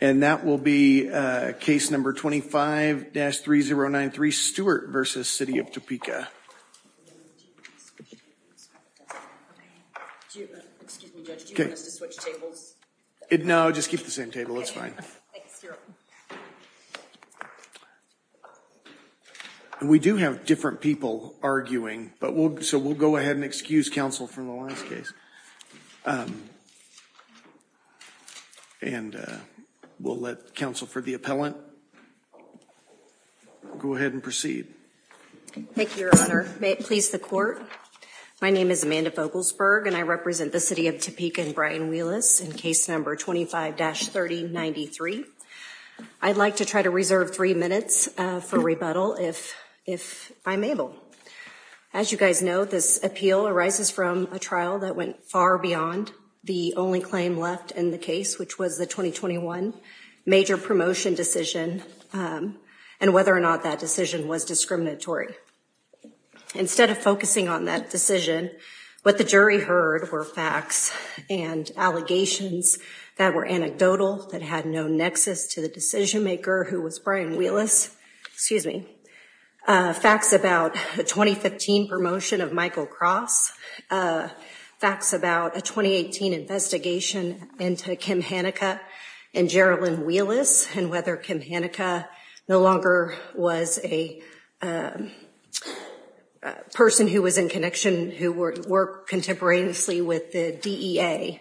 And that will be case number 25-3093, Stewart v. City of Topeka. We do have different people arguing, so we'll go ahead and excuse counsel from the last case. And we'll let counsel for the appellant go ahead and proceed. Thank you, Your Honor. Please the court. My name is Amanda Vogelsberg, and I represent the City of Topeka and Brian Wheelis in case number 25-3093. I'd like to try to reserve three minutes for rebuttal if I'm able. As you guys know, this appeal arises from a trial that went far beyond the only claim left in the case, which was the 2021 major promotion decision, and whether or not that decision was discriminatory. Instead of focusing on that decision, what the jury heard were facts and allegations that were anecdotal, that had no nexus to the decision maker, who was Brian Wheelis. Facts about the 2015 promotion of Michael Cross. Facts about a 2018 investigation into Kim Hanica and Gerilyn Wheelis, and whether Kim Hanica no longer was a person who was in connection, who worked contemporaneously with the DEA,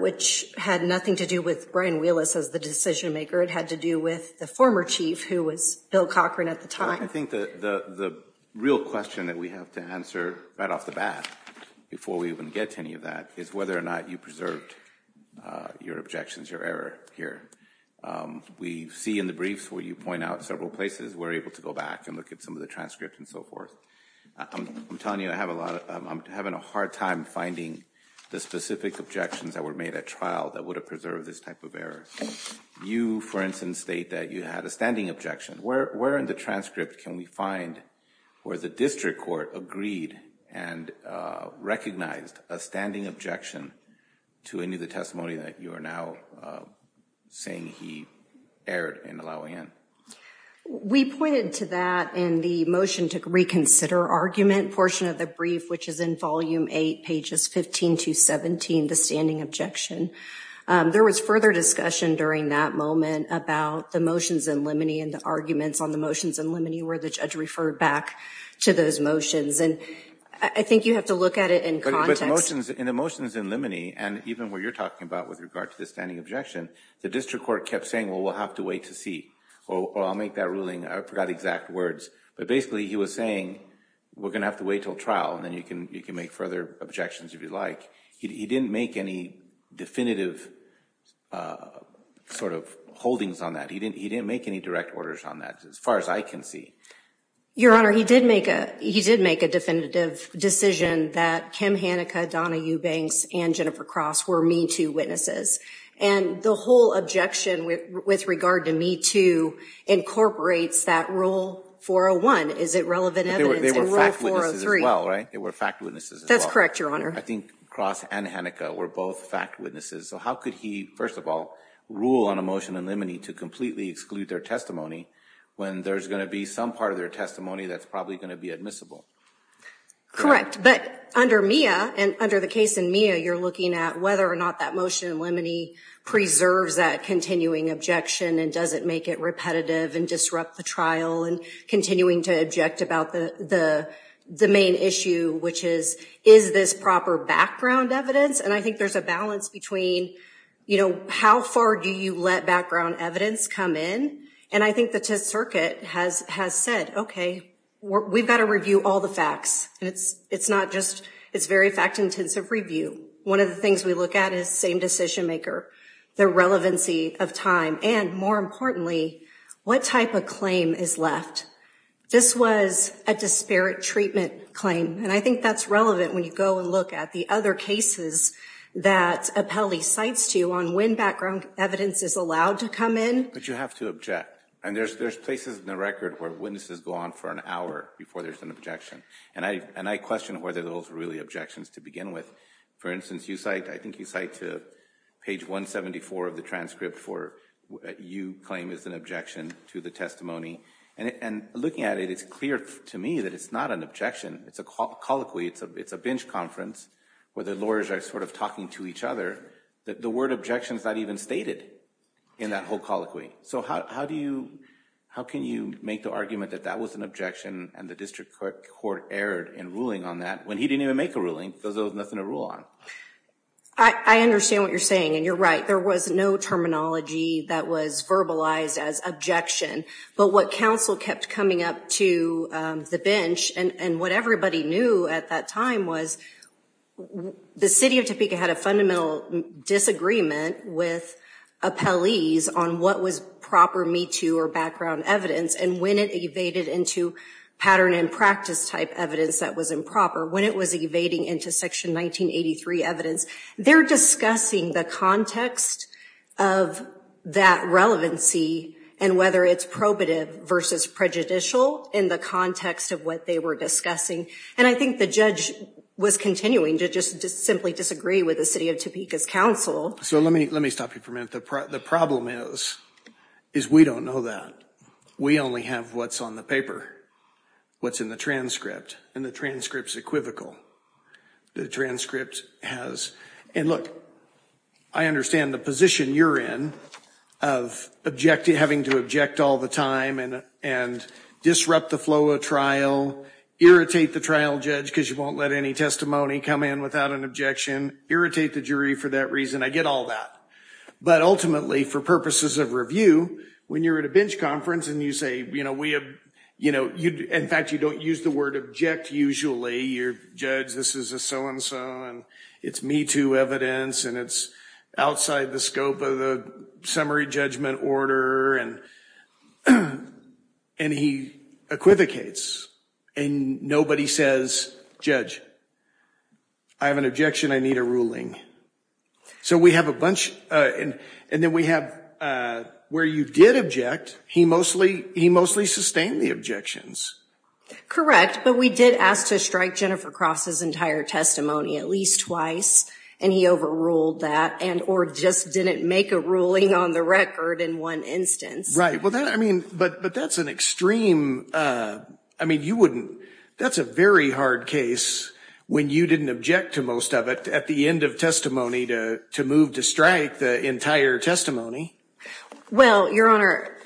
which had nothing to do with Brian Wheelis as the decision maker. It had to do with the former chief, who was Bill Cochran at the time. I think the real question that we have to answer right off the bat, before we even get to any of that, is whether or not you preserved your objections, your error here. We see in the briefs where you point out several places, we're able to go back and look at some of the transcript and so forth. I'm telling you, I'm having a hard time finding the specific objections that were made at trial that would have preserved this type of error. You, for instance, state that you had a standing objection. Where in the transcript can we find where the district court agreed and recognized a standing objection to any of the testimony that you are now saying he erred in allowing in? We pointed to that in the motion to reconsider argument portion of the brief, which is in volume 8, pages 15 to 17, the standing objection. There was further discussion during that moment about the motions in limine and the arguments on the motions in limine, where the judge referred back to those motions. I think you have to look at it in context. In the motions in limine, and even what you're talking about with regard to the standing objection, the district court kept saying, well, we'll have to wait to see. Or I'll make that ruling. I forgot exact words. But basically, he was saying, we're going to have to wait until trial, and then you can make further objections if you'd like. He didn't make any definitive sort of holdings on that. He didn't make any direct orders on that, as far as I can see. Your Honor, he did make a definitive decision that Kim Haneke, Donna Eubanks, and Jennifer Cross were MeToo witnesses. And the whole objection with regard to MeToo incorporates that Rule 401. Is it relevant evidence in Rule 403? They were fact witnesses as well, right? They were fact witnesses as well. That's correct, Your Honor. I think Cross and Haneke were both fact witnesses. So how could he, first of all, rule on a motion in limine to completely exclude their testimony when there's going to be some part of their testimony that's probably going to be admissible? Correct. But under Mia, and under the case in Mia, you're looking at whether or not that motion in limine preserves that continuing objection and doesn't make it repetitive and disrupt the trial and continuing to object about the main issue, which is, is this proper background evidence? And I think there's a balance between, you know, how far do you let background evidence come in? And I think the circuit has said, okay, we've got to review all the facts. And it's not just, it's very fact-intensive review. One of the things we look at is same decision maker, the relevancy of time, and more importantly, what type of claim is left? This was a disparate treatment claim. And I think that's relevant when you go and look at the other cases that appellee cites to you on when background evidence is allowed to come in. But you have to object. And there's places in the record where witnesses go on for an hour before there's an objection. And I question whether those are really objections to begin with. For instance, you cite, I think you cite to page 174 of the transcript for what you claim is an objection to the testimony. And looking at it, it's clear to me that it's not an objection. It's a colloquy. It's a bench conference where the lawyers are sort of talking to each other. The word objection is not even stated in that whole colloquy. So how do you, how can you make the argument that that was an objection and the district court erred in ruling on that when he didn't even make a ruling because there was nothing to rule on? I understand what you're saying. And you're right. There was no terminology that was verbalized as objection. But what council kept coming up to the bench and what everybody knew at that time was the city of Topeka had a fundamental disagreement with appellees on what was proper Me Too or background evidence and when it evaded into pattern and practice type evidence that was improper. When it was evading into section 1983 evidence, they're discussing the context of that relevancy and whether it's appropriate. Versus prejudicial in the context of what they were discussing. And I think the judge was continuing to just simply disagree with the city of Topeka's council. So let me, let me stop you for a minute. The problem is, is we don't know that. We only have what's on the paper, what's in the transcript. And the transcript's equivocal. The transcript has, and look, I understand the position you're in of objecting, having to object all the time. And disrupt the flow of trial. Irritate the trial judge because you won't let any testimony come in without an objection. Irritate the jury for that reason. I get all that. But ultimately, for purposes of review, when you're at a bench conference and you say, you know, we have, you know, in fact, you don't use the word object usually. You're, judge, this is a so and so and it's Me Too evidence and it's outside the scope of the summary judgment order. And, and he equivocates. And nobody says, judge, I have an objection. I need a ruling. So we have a bunch, and then we have, where you did object, he mostly, he mostly sustained the objections. Correct. But we did ask to strike Jennifer Cross's entire testimony at least twice. And he overruled that and, or just didn't make a ruling on the record in one instance. Right. Well, that, I mean, but, but that's an extreme, I mean, you wouldn't, that's a very hard case when you didn't object to most of it at the end of testimony to, to move to strike the entire testimony. Well, Your Honor,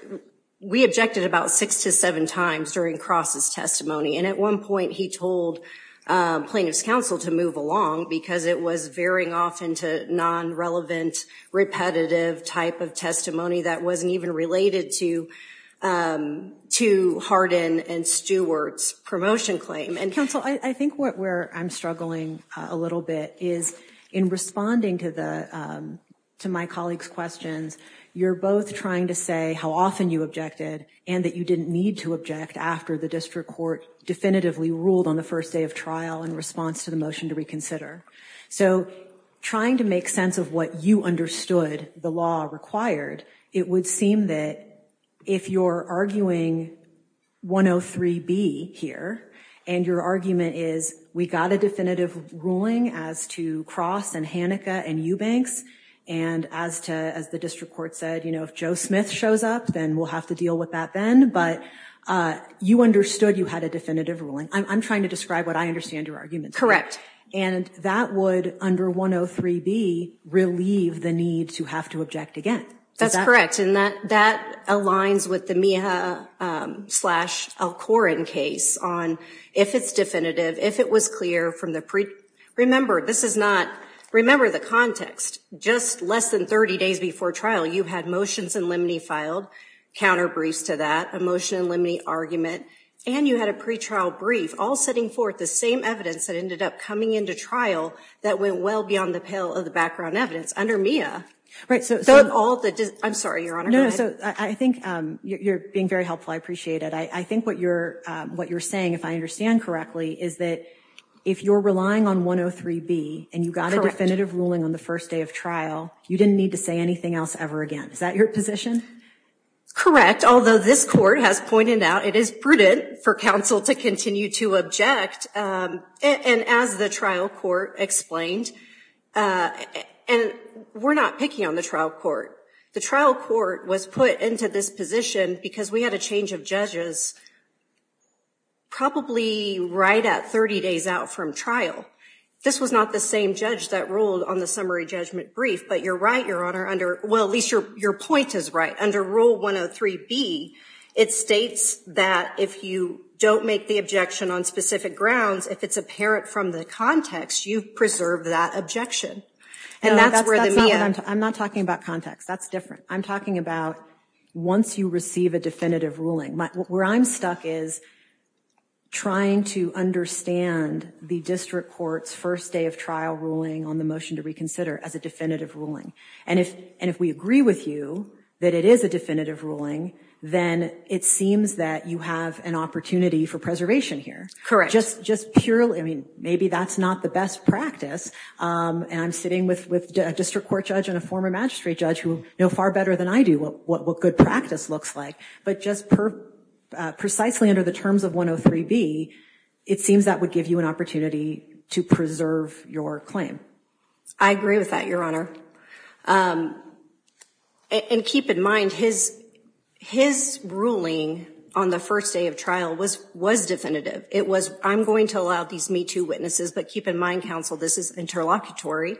we objected about six to seven times during Cross's testimony. And at one point he told plaintiff's counsel to move along because it was veering off into non-relevant, repetitive type of testimony that wasn't even relevant. That was not even related to Harden and Stewart's promotion claim. And counsel I, I think what, where I'm struggling a little bit is in responding to the, to my colleagues' questions. You're both trying to say how often you objected and that you didn't need to object after the district court definitively ruled on the first day of trial in response to the motion to reconsider. So trying to make sense of what you understood the law required, it would seem that if you're arguing 103B here, and your argument is we got a definitive ruling as to Cross and Hanneke and Eubanks, and as to, as the district court said, you know, if Joe Smith shows up, then we'll have to deal with that then, but you understood you had a definitive ruling. I'm trying to describe what I understand your argument. Correct. And that would, under 103B, relieve the need to have to object again. That's correct. And that, that aligns with the Meeha slash Alcorin case on if it's definitive, if it was clear from the pre, remember this is not, remember the context, just less than 30 days before trial, you had motions in limine filed, counter briefs to that, a motion in limine argument, and you had a pretrial brief, all setting forth the same evidence that ended up coming into trial that went well beyond the pale of the background evidence under Meeha. Right, so all the, I'm sorry, Your Honor. No, no, so I think you're being very helpful. I appreciate it. I think what you're saying, if I understand correctly, is that if you're relying on 103B, and you got a definitive ruling on the first day of trial, you didn't need to say anything else ever again. Is that your position? Correct, although this court has pointed out it is prudent for counsel to continue to object, and as the trial court explained, and we're not picking on the trial court. The trial court was put into this position because we had a change of judges probably right at 30 days out from trial. This was not the same judge that ruled on the summary judgment brief, but you're right, Your Honor, under, well, at least your point is right. Under Rule 103B, it states that if you don't make the objection on specific grounds, if it's apparent from the context, you've preserved that objection. And that's where the Meeha. I'm not talking about context. That's different. I'm talking about once you receive a definitive ruling. Where I'm stuck is trying to understand the district court's first day of trial ruling on the motion to reconsider as a definitive ruling, and if we agree with you that it is a definitive ruling, then it seems that you have an opportunity for preservation here. Correct. Just purely, I mean, maybe that's not the best practice, and I'm sitting with a district court judge and a former magistrate judge who know far better than I do what good practice looks like, but just precisely under the terms of 103B, it seems that would give you an opportunity to preserve your claim. I agree with that, Your Honor. And keep in mind, his ruling on the first day of trial was definitive. It was, I'm going to allow these MeToo witnesses, but keep in mind, counsel, this is interlocutory.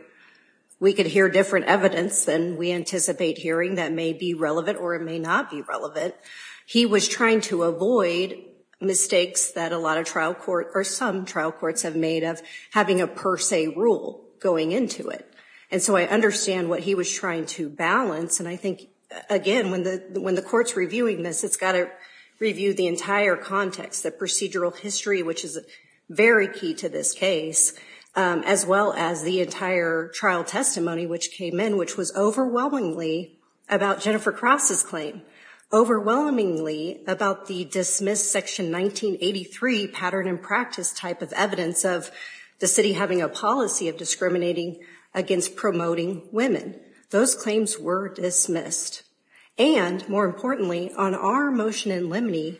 We could hear different evidence than we anticipate hearing that may be relevant or it may not be relevant. He was trying to avoid mistakes that a lot of trial court, or some trial courts, have made of having a per se rule going into it, and so I understand what he was trying to balance, and I think, again, when the court's reviewing this, it's got to review the entire context, the procedural history, which is very key to this case, as well as the entire trial testimony which came in, which was overwhelmingly about Jennifer Cross's claim, overwhelmingly about the dismissed Section 1983 pattern and practice type of evidence of the city having a policy of discriminating against promoting women. Those claims were dismissed. And more importantly, on our motion in limine,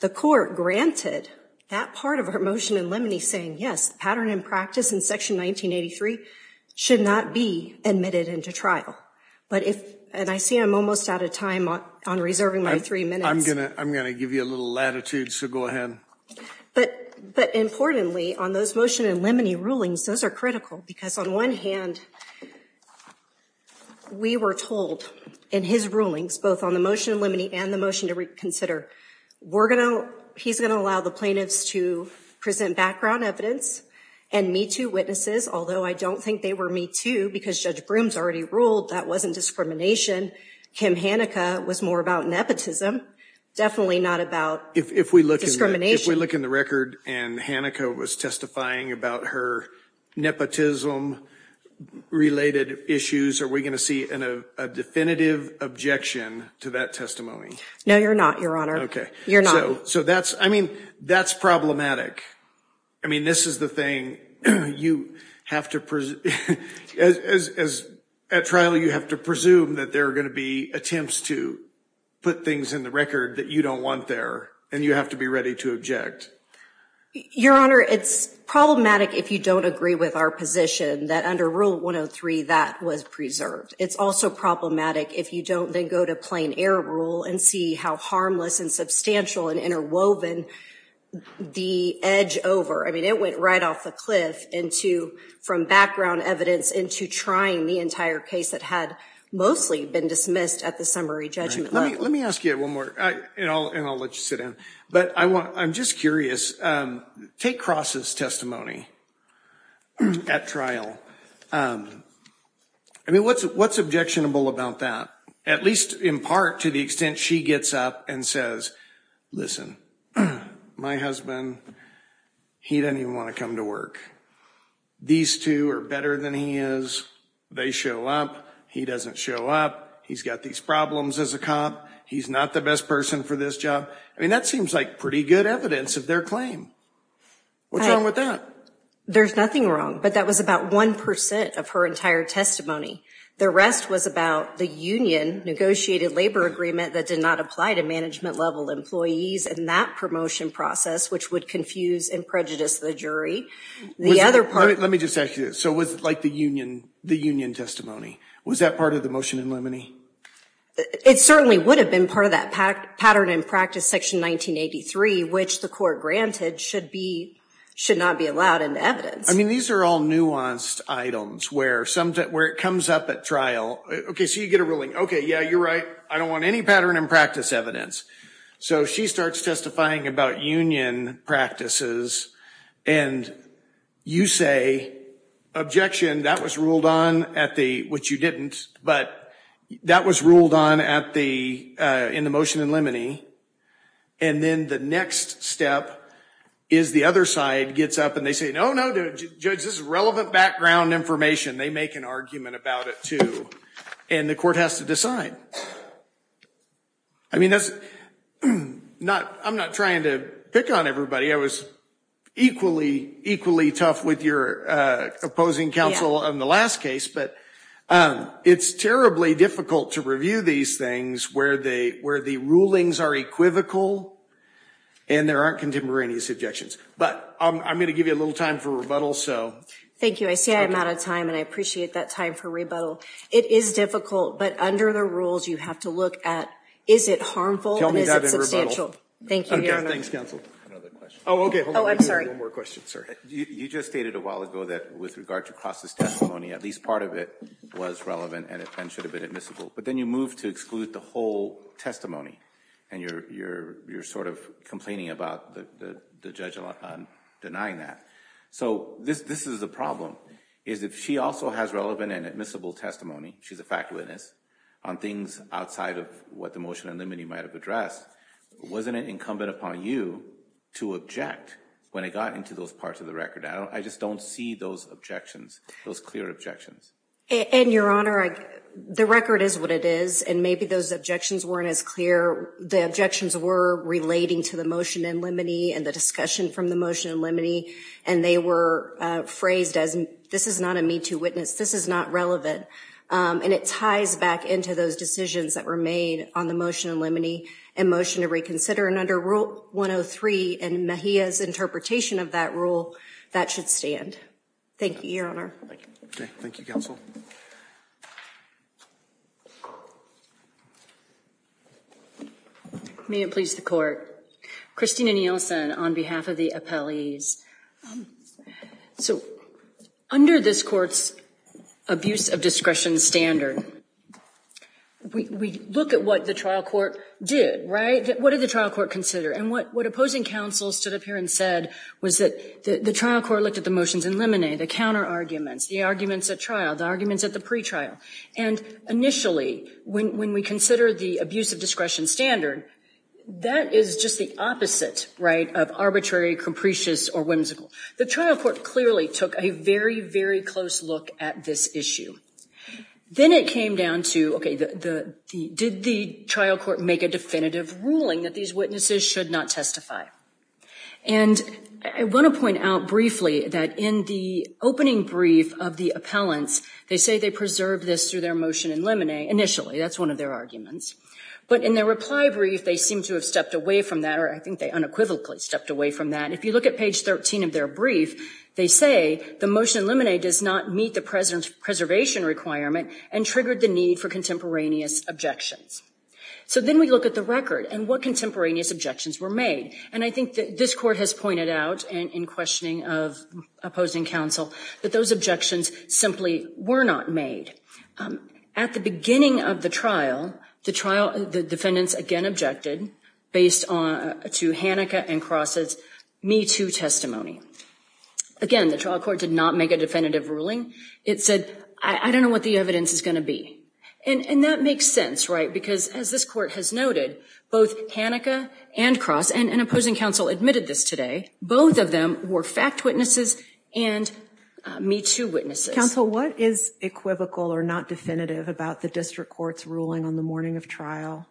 the court granted that part of our motion in limine saying, yes, pattern and practice in Section 1983 should not be admitted into trial. But if, and I see I'm almost out of time on reserving my three minutes. I'm gonna give you a little latitude, so go ahead. But importantly, on those motion in limine rulings, those are critical, because on one hand, we were told in his rulings, both on the motion in limine and the motion to reconsider, we're gonna, he's gonna allow the plaintiffs to present background evidence and Me Too witnesses, although I don't think they were Me Too because Judge Broome's already ruled that wasn't discrimination. Kim Hanica was more about nepotism, definitely not about discrimination. If we look in the record and Hanica was testifying about her nepotism related issues, are we gonna see a definitive objection to that testimony? No, you're not, your honor. Okay. You're not. So that's, I mean, that's problematic. I mean, this is the thing you have to, as at trial, you have to presume that there are gonna be attempts to put things in the record that you don't want there, and you have to be ready to object. Your honor, it's problematic if you don't agree with our position that under Rule 103, that was preserved. It's also problematic if you don't, then go to plain error rule and see how harmless and substantial and interwoven the edge over, I mean, it went right off the cliff from background evidence into trying the entire case that had mostly been dismissed at the summary judgment. Let me ask you one more, and I'll let you sit down, but I'm just curious, take Cross's testimony at trial. I mean, what's objectionable about that, at least in part to the extent she gets up and says, listen, my husband, he doesn't even wanna come to work. These two are better than he is. They show up, he doesn't show up. He's got these problems as a cop. He's not the best person for this job. I mean, that seems like pretty good evidence of their claim. What's wrong with that? There's nothing wrong, but that was about 1% of her entire testimony. The rest was about the union negotiated labor agreement that did not apply to management level employees and that promotion process, which would confuse and prejudice the jury. The other part- Let me just ask you this. So was it like the union testimony? Was that part of the motion in limine? It certainly would have been part of that pattern and practice section 1983, which the court granted should not be allowed in evidence. I mean, these are all nuanced items where it comes up at trial. Okay, so you get a ruling. Okay, yeah, you're right. I don't want any pattern and practice evidence. So she starts testifying about union practices and you say, objection, that was ruled on at the, which you didn't, but that was ruled on in the motion in limine. And then the next step is the other side gets up and they say, no, no, judge, this is relevant background information. They make an argument about it too. And the court has to decide. I mean, I'm not trying to pick on everybody. I was equally tough with your opposing counsel on the last case, but it's terribly difficult to review these things where the rulings are equivocal and there aren't contemporaneous objections. But I'm gonna give you a little time for rebuttal. Thank you, I see I'm out of time and I appreciate that time for rebuttal. It is difficult, but under the rules, you have to look at, is it harmful and is it substantial? Thank you. Thanks counsel. Oh, okay. Oh, I'm sorry. One more question, sir. You just stated a while ago that with regard to cross this testimony, at least part of it was relevant and it should have been admissible, but then you move to exclude the whole testimony and you're sort of complaining about the judge denying that. So this is the problem, is if she also has relevant and admissible testimony, she's a fact witness on things outside of what the motion in limine might've addressed, wasn't it incumbent upon you to object when it got into those parts of the record? I just don't see those objections, those clear objections. And your honor, the record is what it is and maybe those objections weren't as clear. The objections were relating to the motion in limine and the discussion from the motion in limine and they were phrased as, this is not a need to witness, this is not relevant. And it ties back into those decisions that were made on the motion in limine and motion to reconsider. And under rule 103 and Mejia's interpretation of that rule, that should stand. Thank you, your honor. Thank you, counsel. May it please the court. Christina Nielsen on behalf of the appellees. So under this court's abuse of discretion standard, we look at what the trial court did, right? What did the trial court consider? And what opposing counsel stood up here and said was that the trial court looked at the motions in limine, the counter arguments, the arguments at trial, the arguments at the pretrial. And initially, when we consider the abuse of discretion standard, that is just the opposite, right, of arbitrary, capricious, or whimsical. The trial court clearly took a very, very close look at this issue. Then it came down to, okay, did the trial court make a definitive ruling that these witnesses should not testify? And I wanna point out briefly that in the opening brief of the appellants, they say they preserved this through their motion in limine initially. That's one of their arguments. But in their reply brief, they seem to have stepped away from that, or I think they unequivocally stepped away from that. If you look at page 13 of their brief, they say the motion in limine does not meet the president's preservation requirement and triggered the need for contemporaneous objections. So then we look at the record and what contemporaneous objections were made. And I think that this court has pointed out in questioning of opposing counsel that those objections simply were not made. At the beginning of the trial, the defendants again objected based to Hanneke and Cross's Me Too testimony. Again, the trial court did not make a definitive ruling. It said, I don't know what the evidence is gonna be. And that makes sense, right? Because as this court has noted, both Hanneke and Cross, and an opposing counsel admitted this today, both of them were fact witnesses and Me Too witnesses. Counsel, what is equivocal or not definitive about the district court's ruling on the morning of trial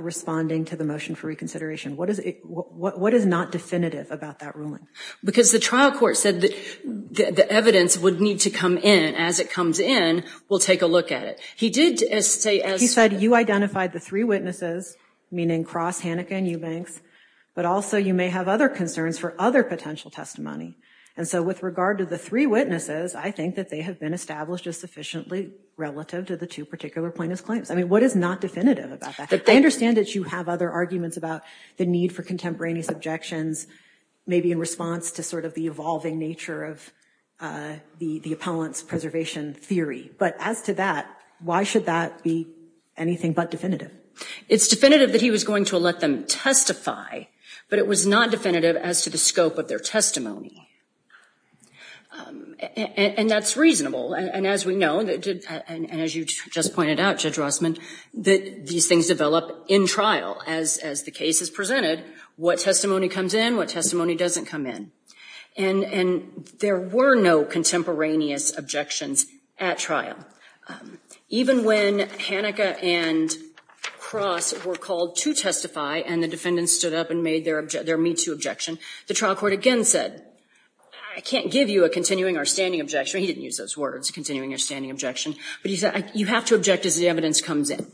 responding to the motion for reconsideration? What is not definitive about that ruling? Because the trial court said that the evidence would need to come in as it comes in, we'll take a look at it. He did say as- He said you identified the three witnesses, meaning Cross, Hanneke, and Eubanks, but also you may have other concerns for other potential testimony. And so with regard to the three witnesses, I think that they have been established as sufficiently relative to the two particular plaintiff's claims. I mean, what is not definitive about that? I understand that you have other arguments about the need for contemporaneous objections, maybe in response to sort of the evolving nature of the appellant's preservation theory. But as to that, why should that be anything but definitive? It's definitive that he was going to let them testify, but it was not definitive as to the scope of their testimony. And that's reasonable. And as we know, and as you just pointed out, Judge Rossman, that these things develop in trial as the case is presented. What testimony comes in, what testimony doesn't come in. And there were no contemporaneous objections at trial. Even when Hanneke and Cross were called to testify and the defendants stood up and made their me too objection, the trial court again said, I can't give you a continuing or standing objection. He didn't use those words, continuing or standing objection. But he said, you have to object as the evidence comes in.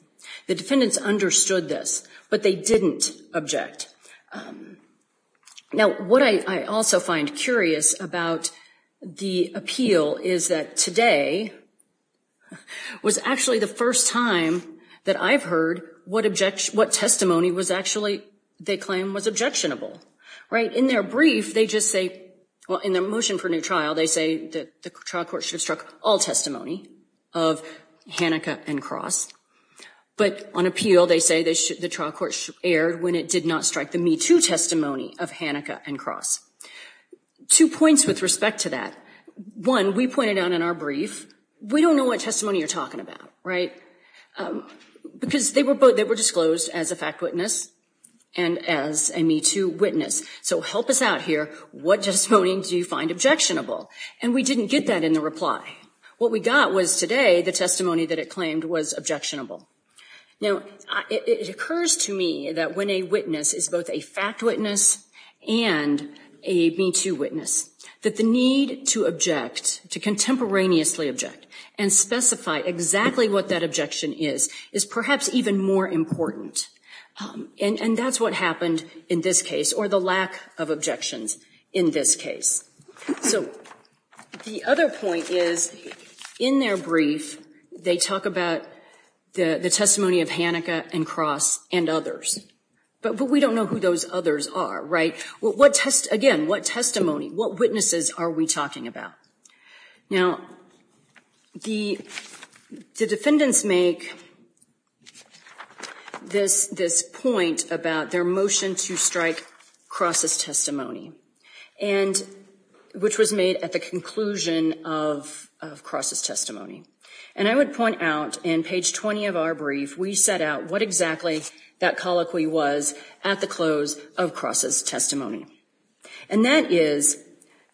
The defendants understood this, but they didn't object. Now, what I also find curious about the appeal is that today was actually the first time that I've heard what testimony was actually, they claim was objectionable, right? In their brief, they just say, well, in their motion for new trial, they say that the trial court should have struck all testimony of Hanneke and Cross. But on appeal, they say the trial court should air when it did not strike the me too testimony of Hanneke and Cross. Two points with respect to that. One, we pointed out in our brief, we don't know what testimony you're talking about, right? Because they were disclosed as a fact witness and as a me too witness. So help us out here, what testimony do you find objectionable? And we didn't get that in the reply. What we got was today, the testimony that it claimed was objectionable. Now, it occurs to me that when a witness is both a fact witness and a me too witness, that the need to object, to contemporaneously object, and specify exactly what that objection is, is perhaps even more important. And that's what happened in this case, or the lack of objections in this case. So, the other point is, in their brief, they talk about the testimony of Hanneke and Cross and others. But we don't know who those others are, right? What test, again, what testimony, what witnesses are we talking about? Now, the defendants make this point about their motion to strike Cross' testimony. And, which was made at the conclusion of Cross' testimony. And I would point out, in page 20 of our brief, we set out what exactly that colloquy was at the close of Cross' testimony. And that is,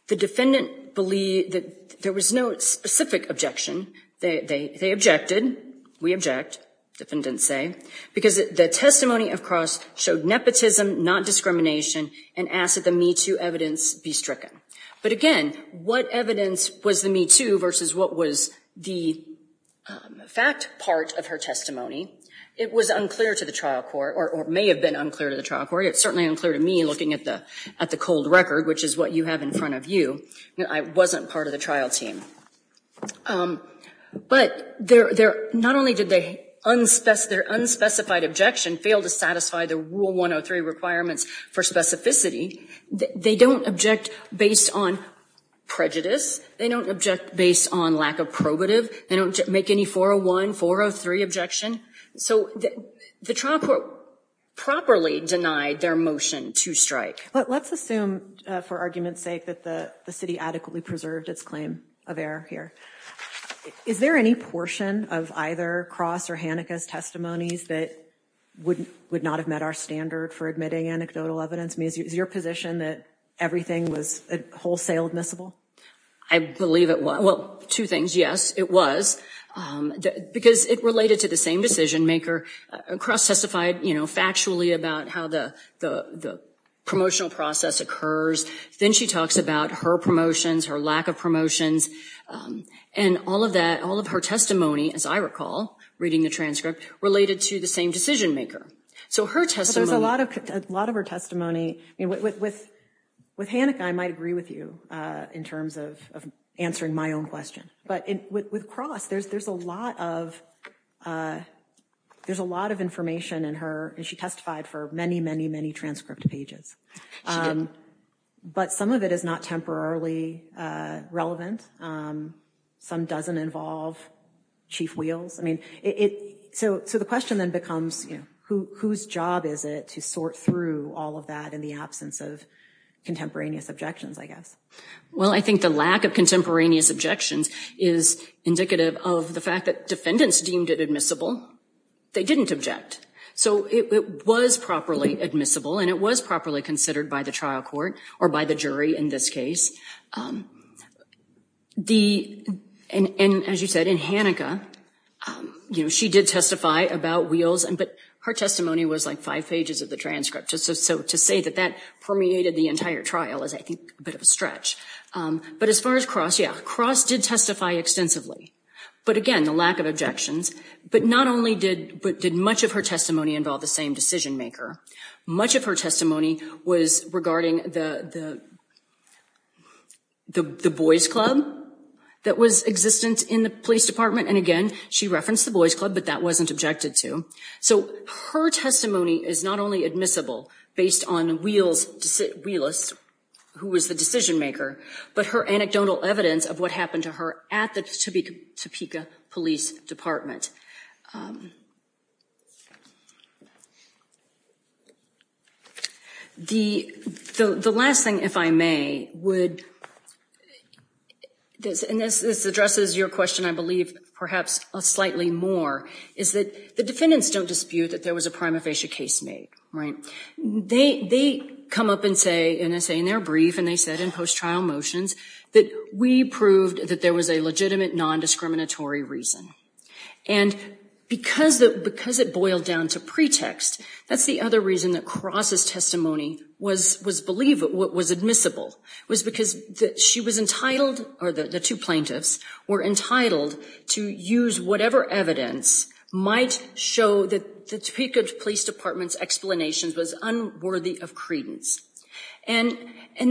the defendant believed that there was no specific objection. They objected, we object, defendants say, because the testimony of Cross showed nepotism, not discrimination, and asked that the Me Too evidence be stricken. But again, what evidence was the Me Too versus what was the fact part of her testimony? It was unclear to the trial court, or may have been unclear to the trial court. It's certainly unclear to me, looking at the cold record, which is what you have in front of you. I wasn't part of the trial team. But, not only did their unspecified objection fail to satisfy the Rule 103 requirements for specificity, they don't object based on prejudice. They don't object based on lack of probative. They don't make any 401, 403 objection. So, the trial court properly denied their motion to strike. But, let's assume, for argument's sake, that the city adequately preserved its claim of error here. Is there any portion of either Cross' or Hanica's testimonies that would not have met our standard for admitting anecdotal evidence? I mean, is your position that everything was wholesale admissible? I believe it was. Well, two things. Yes, it was, because it related to the same decision maker. Cross testified factually about how the promotional process occurs. Then she talks about her promotions, her lack of promotions. And all of that, all of her testimony, as I recall, reading the transcript, related to the same decision maker. So, her testimony. There's a lot of her testimony. I mean, with Hanica, I might agree with you in terms of answering my own question. But, with Cross, there's a lot of, there's a lot of information in her, and she testified for many, many, many transcript pages. But, some of it is not temporarily relevant. Some doesn't involve chief wheels. So, the question then becomes, whose job is it to sort through all of that in the absence of contemporaneous objections, I guess? Well, I think the lack of contemporaneous objections is indicative of the fact that defendants deemed it admissible. They didn't object. So, it was properly admissible, and it was properly considered by the trial court, or by the jury, in this case. And, as you said, in Hanica, she did testify about wheels, but her testimony was like five pages of the transcript. So, to say that that permeated the entire trial is, I think, a bit of a stretch. But, as far as Cross, yeah, Cross did testify extensively. But, again, the lack of objections. But, not only did much of her testimony involve the same decision maker, much of her testimony was regarding the, the boys club that was existent in the police department. And, again, she referenced the boys club, but that wasn't objected to. So, her testimony is not only admissible based on wheels, wheelist, who was the decision maker, but her anecdotal evidence of what happened to her at the Topeka Police Department. The last thing, if I may, would, and this addresses your question, I believe, perhaps slightly more, is that the defendants don't dispute that there was a prima facie case made, right? They come up and say, and I say, and they're brief, and they said in post-trial motions, that we proved that there was a legitimate, non-discriminatory reason. And, that there was a legitimate non-discriminatory reason and because it boiled down to pretext, that's the other reason that Cross's testimony was admissible, was because she was entitled, or the two plaintiffs were entitled to use whatever evidence might show that the Topeka Police Department's explanations was unworthy of credence. And,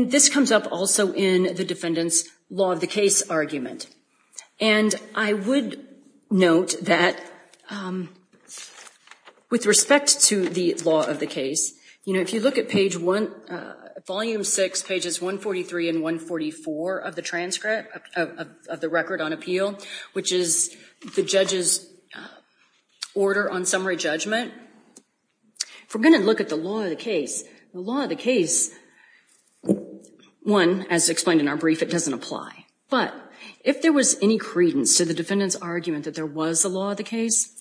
this comes up also in the defendant's law of the case argument. And, I would note that, with respect to the law of the case, you know, if you look at page one, volume six, pages 143 and 144 of the transcript, of the record on appeal, which is the judge's order on summary judgment, if we're gonna look at the law of the case, the law of the case, one, as explained in our brief, it doesn't apply. But, if there was any credence to the defendant's argument that there was a law of the case,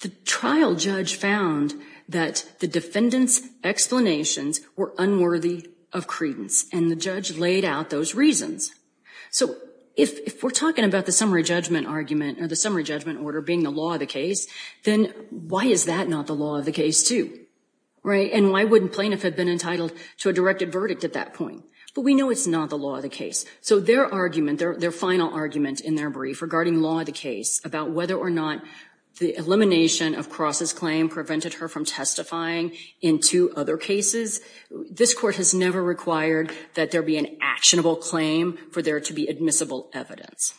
the trial judge found that the defendant's explanations were unworthy of credence and the judge laid out those reasons. So, if we're talking about the summary judgment argument or the summary judgment order being the law of the case, then why is that not the law of the case too, right? And, why wouldn't plaintiff have been entitled to a directed verdict at that point? But, we know it's not the law of the case. So, their argument, their final argument in their brief regarding law of the case, about whether or not the elimination of Cross's claim prevented her from testifying in two other cases, this court has never required that there be an actionable claim for there to be admissible evidence.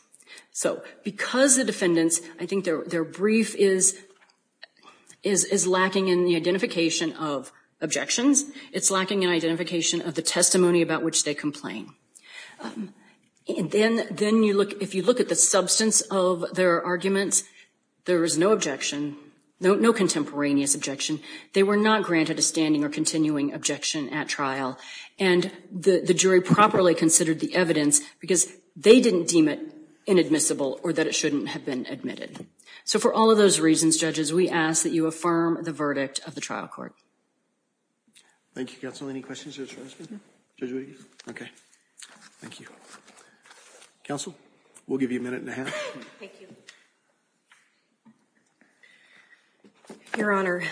So, because the defendants, I think their brief is lacking in the identification of objections, it's lacking in identification of the testimony about which they complain. And then, if you look at the substance of their arguments, there is no objection, no contemporaneous objection. They were not granted a standing or continuing objection at trial and the jury properly considered the evidence because they didn't deem it inadmissible or that it shouldn't have been admitted. So, for all of those reasons, judges, we ask that you affirm the verdict of the trial court. Thank you, counsel. Any questions of the judge? Judge Williams? Okay. Thank you. Counsel, we'll give you a minute and a half. Thank you. Your Honor,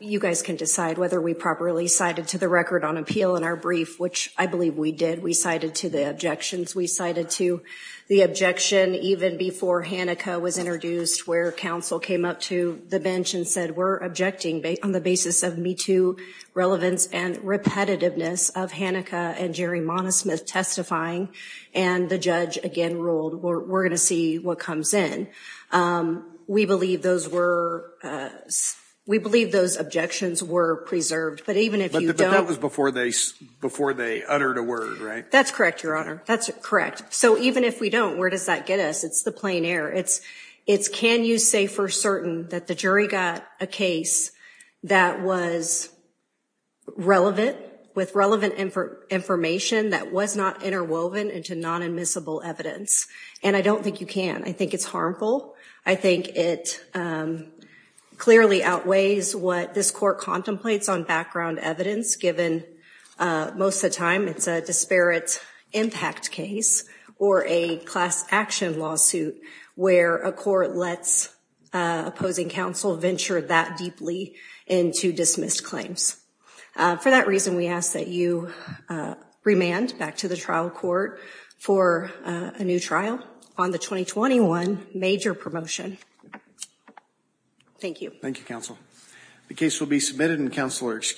you guys can decide whether we properly cited to the record on appeal in our brief, which I believe we did. We cited to the objections. We cited to the objection even before Hanica was introduced where counsel came up to the bench and said, we're objecting on the basis of Me Too relevance and repetitiveness of Hanica and Jerry Monismith testifying and the judge again ruled, we're gonna see what comes in. We believe those were, we believe those objections were preserved, but even if you don't- But that was before they uttered a word, right? That's correct, Your Honor. That's correct. So, even if we don't, where does that get us? It's the plain air. It's can you say for certain that the jury got a case that was relevant with relevant information that was not interwoven into non-admissible evidence? And I don't think you can. I think it's harmful. I think it clearly outweighs what this court contemplates on background evidence given most of the time it's a disparate impact case or a class action lawsuit where a court lets opposing counsel venture that deeply into dismissed claims. For that reason, we ask that you remand back to the trial court for a new trial on the 2021 major promotion. Thank you. Thank you, counsel. The case will be submitted and counsel are excused.